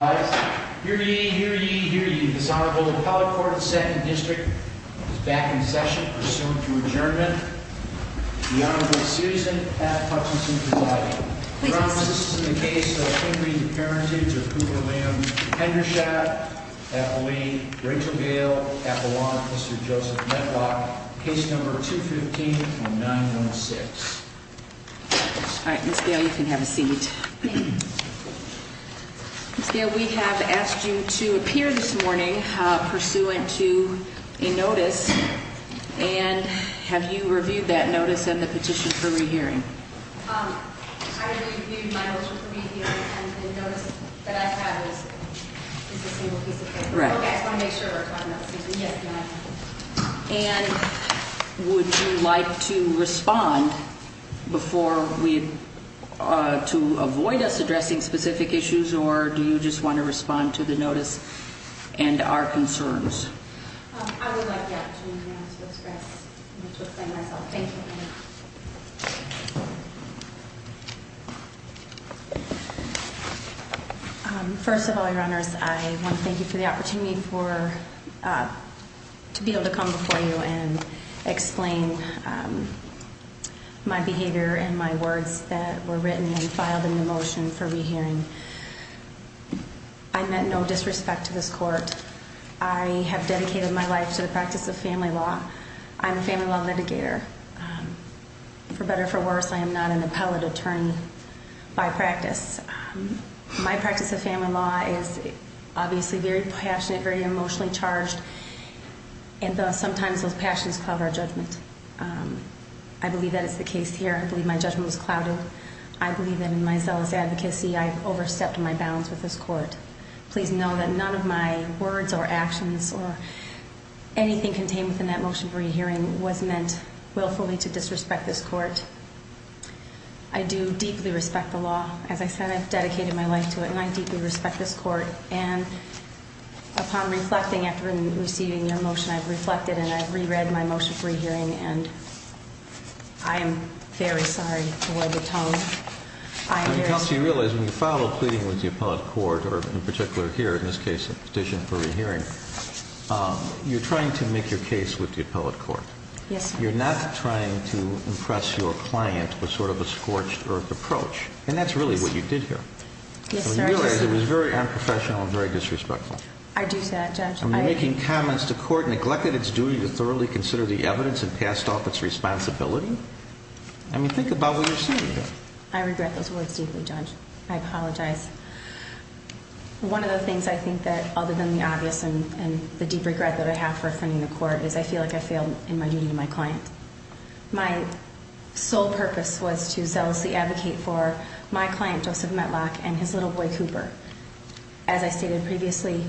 I hear you, hear you, hear you desirable. The public court in the second district is back in session for soon to adjournment. The Honorable Susan at Hutchinson provided promises in the case of Henry, the parentage of Cooper, William Hendershot, happily, Rachel Gale at the long Mr. Joseph Medlock, case number 2 15 on 9 16. All right, Miss Gail, you can have a seat. Yeah, we have asked you to appear this morning pursuant to a notice. And have you reviewed that notice and the petition for rehearing? I reviewed my motion for rehearing and the notice that I have is a single piece of paper. Right. I just want to make sure if I'm not mistaken. Yes, you are. And would you like to respond before we to avoid us addressing specific issues? Or do you just want to respond to the notice and our concerns? I would like the opportunity now to express myself. Thank you. First of all, your honors, I want to thank you for the opportunity for to be able to come before you and explain my behavior and my words that were written and filed in the motion for rehearing. I meant no disrespect to this court. I have dedicated my life to the practice of family law. I'm a family law litigator. For better or for worse, I am not an appellate attorney by practice. My practice of family law is obviously very passionate, very emotionally charged. And sometimes those passions cloud our judgment. I believe that is the case here. I believe my judgment was clouded. I believe that in my zealous advocacy, I overstepped my bounds with this court. Please know that none of my words or actions or anything contained within that motion for rehearing was meant willfully to disrespect this court. I do deeply respect the law. As I said, I've dedicated my life to it. And I deeply respect this court. And upon reflecting after receiving your motion, I've reflected and I've reread my motion for rehearing. And I am very sorry to wear the tongue. I am very sorry. Counsel, you realize when you file a pleading with the appellate court, or in particular here in this case a petition for rehearing, you're trying to make your case with the appellate court. Yes, sir. You're not trying to impress your client with sort of a scorched earth approach. And that's really what you did here. Yes, sir. You realize it was very unprofessional and very disrespectful. I do say that, Judge. I mean, you're making comments the court neglected its duty to thoroughly consider the evidence and passed off its responsibility? I mean, think about what you're saying here. I regret those words deeply, Judge. I apologize. One of the things I think that, other than the obvious and the deep regret that I have for offending the court, is I feel like I failed in my duty to my client. My sole purpose was to zealously advocate for my client, Joseph Metlock, and his little boy, Cooper. As I stated previously,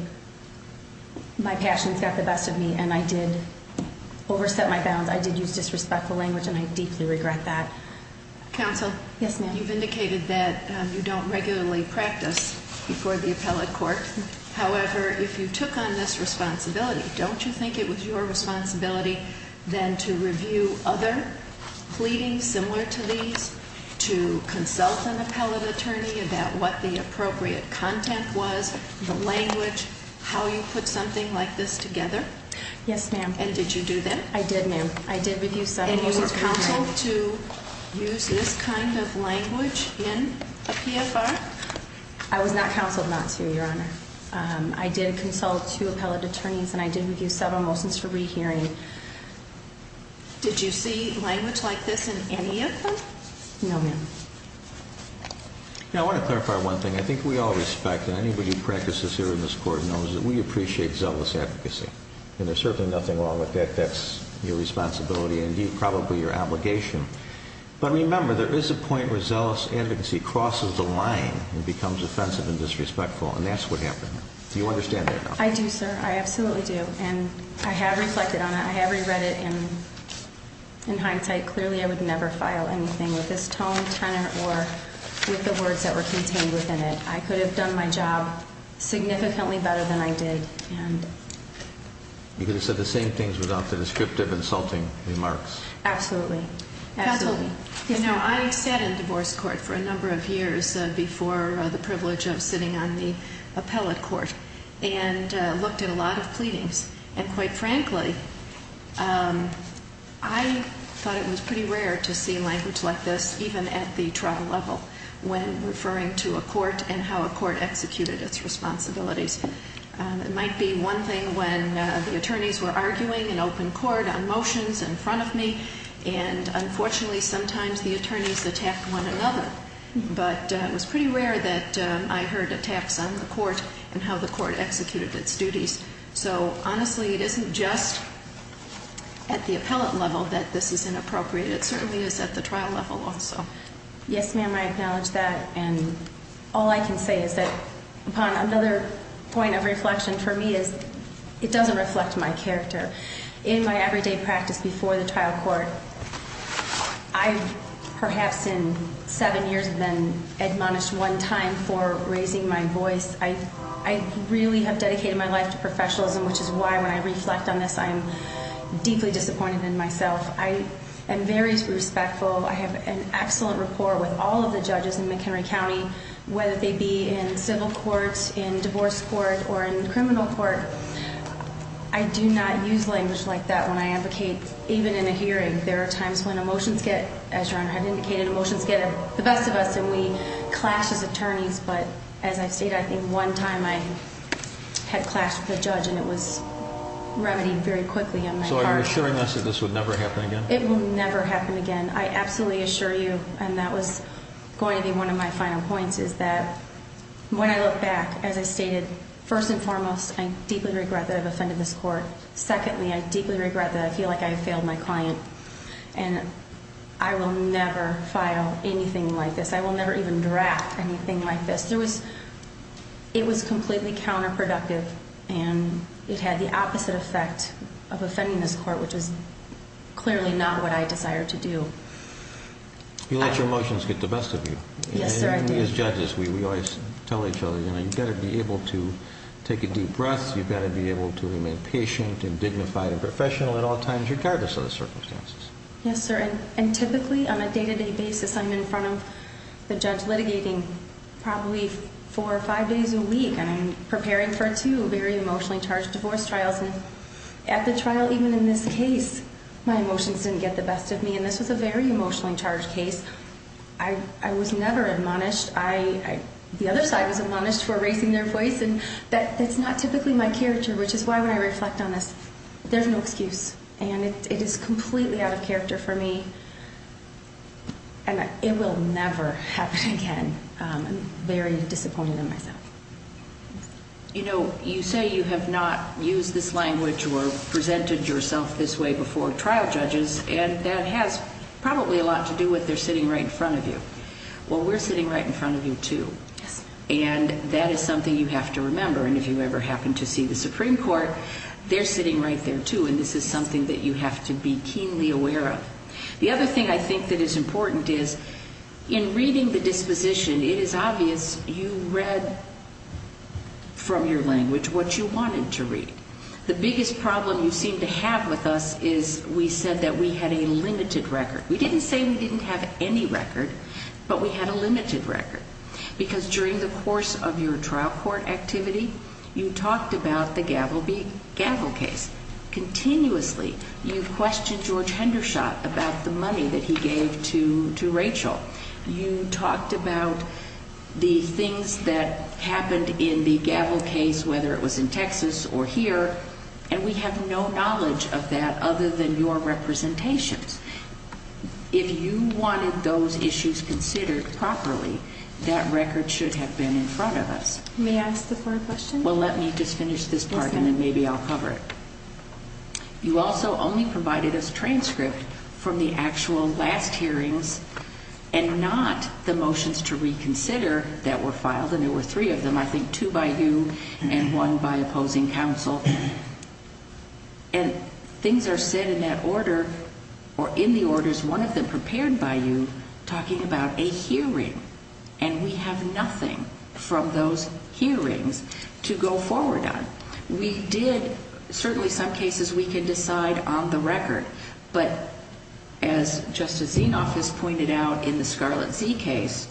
my passions got the best of me, and I did overstep my bounds. I did use disrespectful language, and I deeply regret that. Counsel? Yes, ma'am. You've indicated that you don't regularly practice before the appellate court. However, if you took on this responsibility, don't you think it was your responsibility then to review other pleadings similar to these, to consult an appellate attorney about what the appropriate content was, the language, how you put something like this together? Yes, ma'am. And did you do that? I did, ma'am. I did review several of his comments. And you were counseled to use this kind of language in a PFR? I was not counseled not to, Your Honor. I did consult two appellate attorneys, and I did review several motions for rehearing. Did you see language like this in any of them? No, ma'am. Now, I want to clarify one thing. I think we all respect, and anybody who practices here in this court knows, that we appreciate zealous advocacy. And there's certainly nothing wrong with that. That's your responsibility and, indeed, probably your obligation. But remember, there is a point where zealous advocacy crosses the line and becomes offensive and disrespectful, and that's what happened. Do you understand that? I do, sir. I absolutely do. And I have reflected on it. I have reread it. And in hindsight, clearly I would never file anything with this tone, tenor, or with the words that were contained within it. I could have done my job significantly better than I did. You could have said the same things without the descriptive, insulting remarks. Absolutely. Absolutely. You know, I sat in divorce court for a number of years before the privilege of sitting on the appellate court and looked at a lot of pleadings. And quite frankly, I thought it was pretty rare to see language like this, even at the trial level, when referring to a court and how a court executed its responsibilities. It might be one thing when the attorneys were arguing in open court on motions in front of me, and unfortunately sometimes the attorneys attacked one another. But it was pretty rare that I heard attacks on the court and how the court executed its duties. So, honestly, it isn't just at the appellate level that this is inappropriate. It certainly is at the trial level also. Yes, ma'am, I acknowledge that. And all I can say is that another point of reflection for me is it doesn't reflect my character. In my everyday practice before the trial court, I perhaps in seven years have been admonished one time for raising my voice. I really have dedicated my life to professionalism, which is why when I reflect on this I am deeply disappointed in myself. I am very respectful. I have an excellent rapport with all of the judges in McHenry County, whether they be in civil court, in divorce court, or in criminal court. I do not use language like that when I advocate, even in a hearing. There are times when motions get, as Your Honor had indicated, motions get the best of us and we clash as attorneys. But as I've stated, I think one time I had clashed with a judge and it was remedied very quickly on my part. So are you assuring us that this would never happen again? It will never happen again. I absolutely assure you, and that was going to be one of my final points, is that when I look back, as I stated, first and foremost, I deeply regret that I've offended this court. Secondly, I deeply regret that I feel like I have failed my client. And I will never file anything like this. I will never even draft anything like this. It was completely counterproductive and it had the opposite effect of offending this court, which is clearly not what I desire to do. You let your emotions get the best of you. Yes, sir, I do. And as judges, we always tell each other, you know, you've got to be able to take a deep breath. You've got to be able to remain patient and dignified and professional at all times, regardless of the circumstances. Yes, sir. And typically, on a day-to-day basis, I'm in front of the judge litigating probably four or five days a week, and I'm preparing for two very emotionally charged divorce trials. And at the trial, even in this case, my emotions didn't get the best of me. And this was a very emotionally charged case. I was never admonished. The other side was admonished for erasing their voice. And that's not typically my character, which is why when I reflect on this, there's no excuse. And it is completely out of character for me, and it will never happen again. I'm very disappointed in myself. You know, you say you have not used this language or presented yourself this way before trial judges, and that has probably a lot to do with they're sitting right in front of you. Well, we're sitting right in front of you too. Yes, ma'am. And that is something you have to remember. And if you ever happen to see the Supreme Court, they're sitting right there too, and this is something that you have to be keenly aware of. The other thing I think that is important is in reading the disposition, it is obvious you read from your language what you wanted to read. The biggest problem you seem to have with us is we said that we had a limited record. We didn't say we didn't have any record, but we had a limited record. Because during the course of your trial court activity, you talked about the Gavel case continuously. You've questioned George Hendershot about the money that he gave to Rachel. You talked about the things that happened in the Gavel case, whether it was in Texas or here, and we have no knowledge of that other than your representations. If you wanted those issues considered properly, that record should have been in front of us. May I ask a further question? Well, let me just finish this part and then maybe I'll cover it. You also only provided us transcript from the actual last hearings and not the motions to reconsider that were filed, and there were three of them, I think two by you and one by opposing counsel. And things are said in that order or in the orders, one of them prepared by you, talking about a hearing, and we have nothing from those hearings to go forward on. We did, certainly some cases we can decide on the record, but as Justice Zinoff has pointed out in the Scarlet Z case,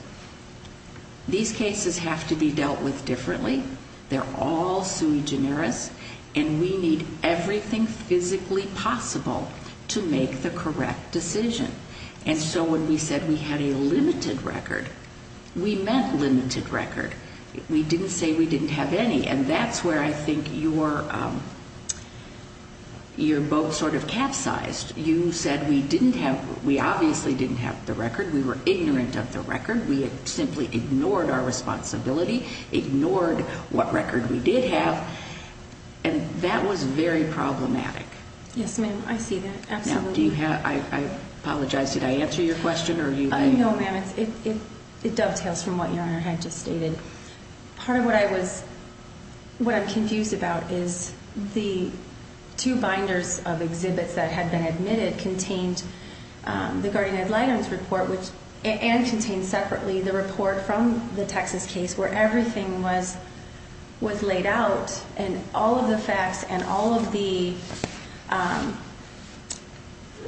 these cases have to be dealt with differently. They're all sui generis, and we need everything physically possible to make the correct decision. And so when we said we had a limited record, we meant limited record. We didn't say we didn't have any, and that's where I think you're both sort of capsized. You said we obviously didn't have the record, we were ignorant of the record, we had simply ignored our responsibility, ignored what record we did have, and that was very problematic. Yes, ma'am, I see that, absolutely. Now, do you have, I apologize, did I answer your question or are you? No, ma'am, it dovetails from what Your Honor had just stated. Part of what I was, what I'm confused about is the two binders of exhibits that had been admitted that contained the guardian ad litem's report and contained separately the report from the Texas case where everything was laid out and all of the facts and all of the,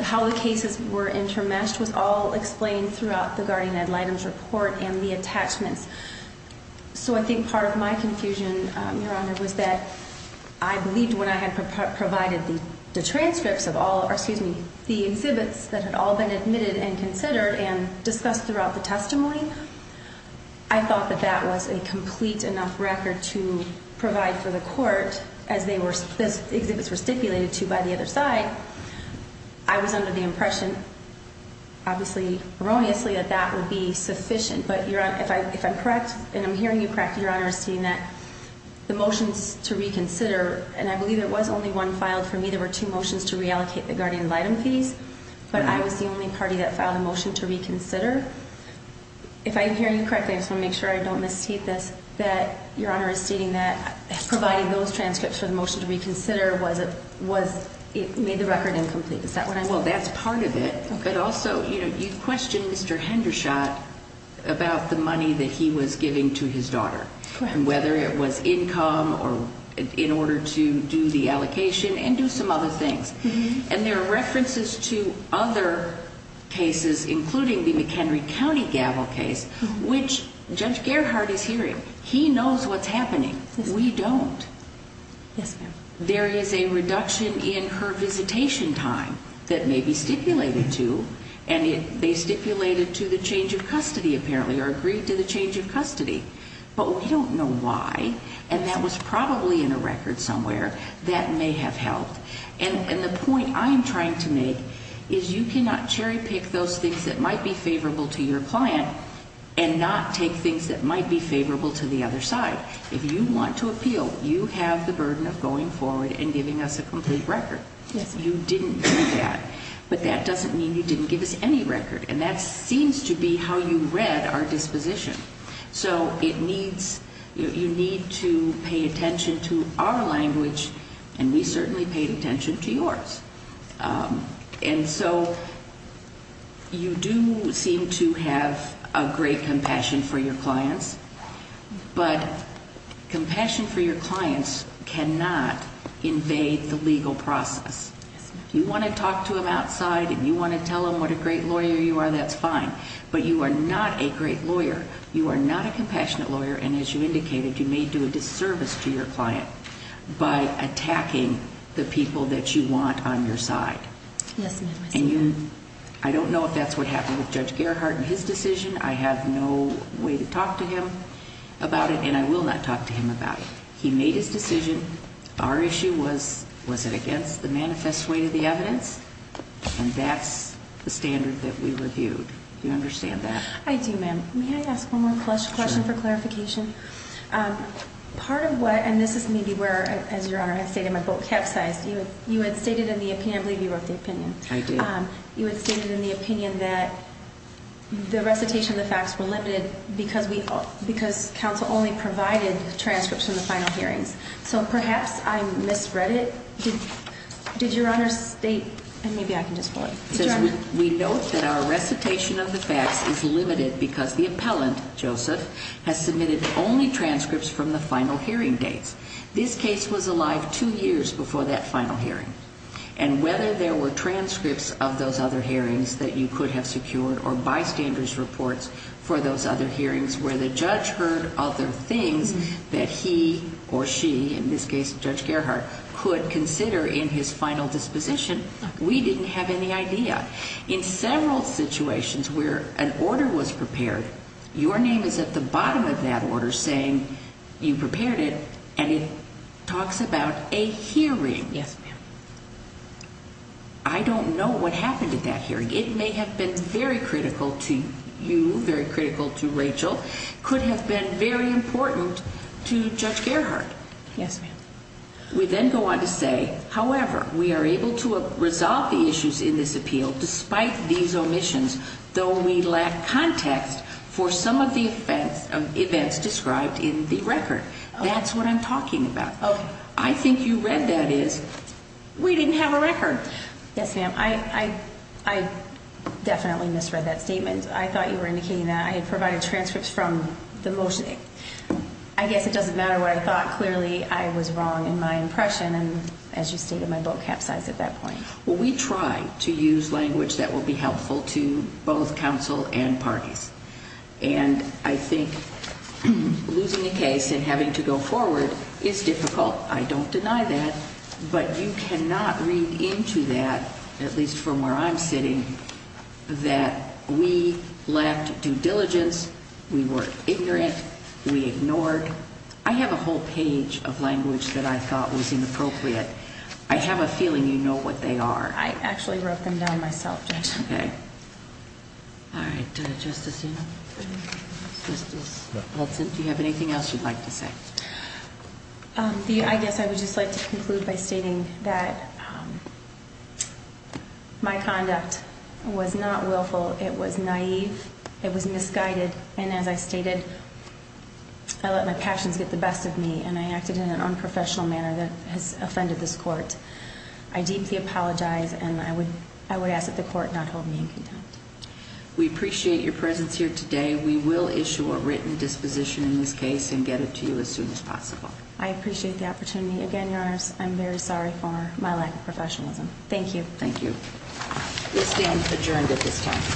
how the cases were intermeshed was all explained throughout the guardian ad litem's report and the attachments. So I think part of my confusion, Your Honor, was that I believed when I had provided the transcripts of all, or excuse me, the exhibits that had all been admitted and considered and discussed throughout the testimony, I thought that that was a complete enough record to provide for the court as they were, as exhibits were stipulated to by the other side. I was under the impression, obviously erroneously, that that would be sufficient. But Your Honor, if I'm correct, and I'm hearing you correct, Your Honor, stating that the motions to reconsider, and I believe there was only one filed for me, there were two motions to reallocate the guardian ad litem fees, but I was the only party that filed a motion to reconsider. If I'm hearing you correctly, I just want to make sure I don't misstate this, that Your Honor is stating that providing those transcripts for the motion to reconsider was, it made the record incomplete. Is that what I'm saying? Well, that's part of it. Okay. But also, you know, you've questioned Mr. Hendershot about the money that he was giving to his daughter. Correct. And whether it was income or in order to do the allocation and do some other things. And there are references to other cases, including the McHenry County gavel case, which Judge Gerhard is hearing. He knows what's happening. We don't. Yes, ma'am. There is a reduction in her visitation time that may be stipulated to, and they stipulated to the change of custody, apparently, or agreed to the change of custody. But we don't know why, and that was probably in a record somewhere that may have helped. And the point I'm trying to make is you cannot cherry pick those things that might be favorable to your client and not take things that might be favorable to the other side. If you want to appeal, you have the burden of going forward and giving us a complete record. You didn't do that. But that doesn't mean you didn't give us any record, and that seems to be how you read our disposition. So you need to pay attention to our language, and we certainly paid attention to yours. And so you do seem to have a great compassion for your clients, but compassion for your clients cannot invade the legal process. If you want to talk to them outside and you want to tell them what a great lawyer you are, that's fine. But you are not a great lawyer. You are not a compassionate lawyer, and as you indicated, you may do a disservice to your client by attacking the people that you want on your side. Yes, ma'am. And I don't know if that's what happened with Judge Gerhard and his decision. I have no way to talk to him about it, and I will not talk to him about it. He made his decision. Our issue was, was it against the manifest way to the evidence? And that's the standard that we reviewed. Do you understand that? I do, ma'am. May I ask one more question for clarification? Part of what, and this is maybe where, as Your Honor has stated, my boat capsized. You had stated in the opinion, I believe you wrote the opinion. I did. You had stated in the opinion that the recitation of the facts were limited because counsel only provided transcripts from the final hearings. So perhaps I misread it. Did Your Honor state, and maybe I can just pull it. It says we note that our recitation of the facts is limited because the appellant, Joseph, has submitted only transcripts from the final hearing dates. This case was alive two years before that final hearing. And whether there were transcripts of those other hearings that you could have secured or bystanders' reports for those other hearings where the judge heard other things that he or she, in this case Judge Gerhardt, could consider in his final disposition, we didn't have any idea. In several situations where an order was prepared, your name is at the bottom of that order saying you prepared it, and it talks about a hearing. Yes, ma'am. I don't know what happened at that hearing. It may have been very critical to you, very critical to Rachel. It could have been very important to Judge Gerhardt. Yes, ma'am. We then go on to say, however, we are able to resolve the issues in this appeal despite these omissions, though we lack context for some of the events described in the record. That's what I'm talking about. Okay. I think you read that as we didn't have a record. Yes, ma'am. I definitely misread that statement. I thought you were indicating that I had provided transcripts from the motion. I guess it doesn't matter what I thought. Clearly I was wrong in my impression, as you stated, my book capsized at that point. We try to use language that will be helpful to both counsel and parties. And I think losing a case and having to go forward is difficult. I don't deny that. But you cannot read into that, at least from where I'm sitting, that we lacked due diligence, we were ignorant, we ignored. I have a whole page of language that I thought was inappropriate. I have a feeling you know what they are. I actually wrote them down myself, Judge. Okay. All right. Justice Hudson, do you have anything else you'd like to say? I guess I would just like to conclude by stating that my conduct was not willful. It was naive. It was misguided. And as I stated, I let my passions get the best of me, and I acted in an unprofessional manner that has offended this court. I deeply apologize, and I would ask that the court not hold me in contempt. We appreciate your presence here today. We will issue a written disposition in this case and get it to you as soon as possible. I appreciate the opportunity. Again, Your Honors, I'm very sorry for my lack of professionalism. Thank you. Thank you. We'll stand adjourned at this time.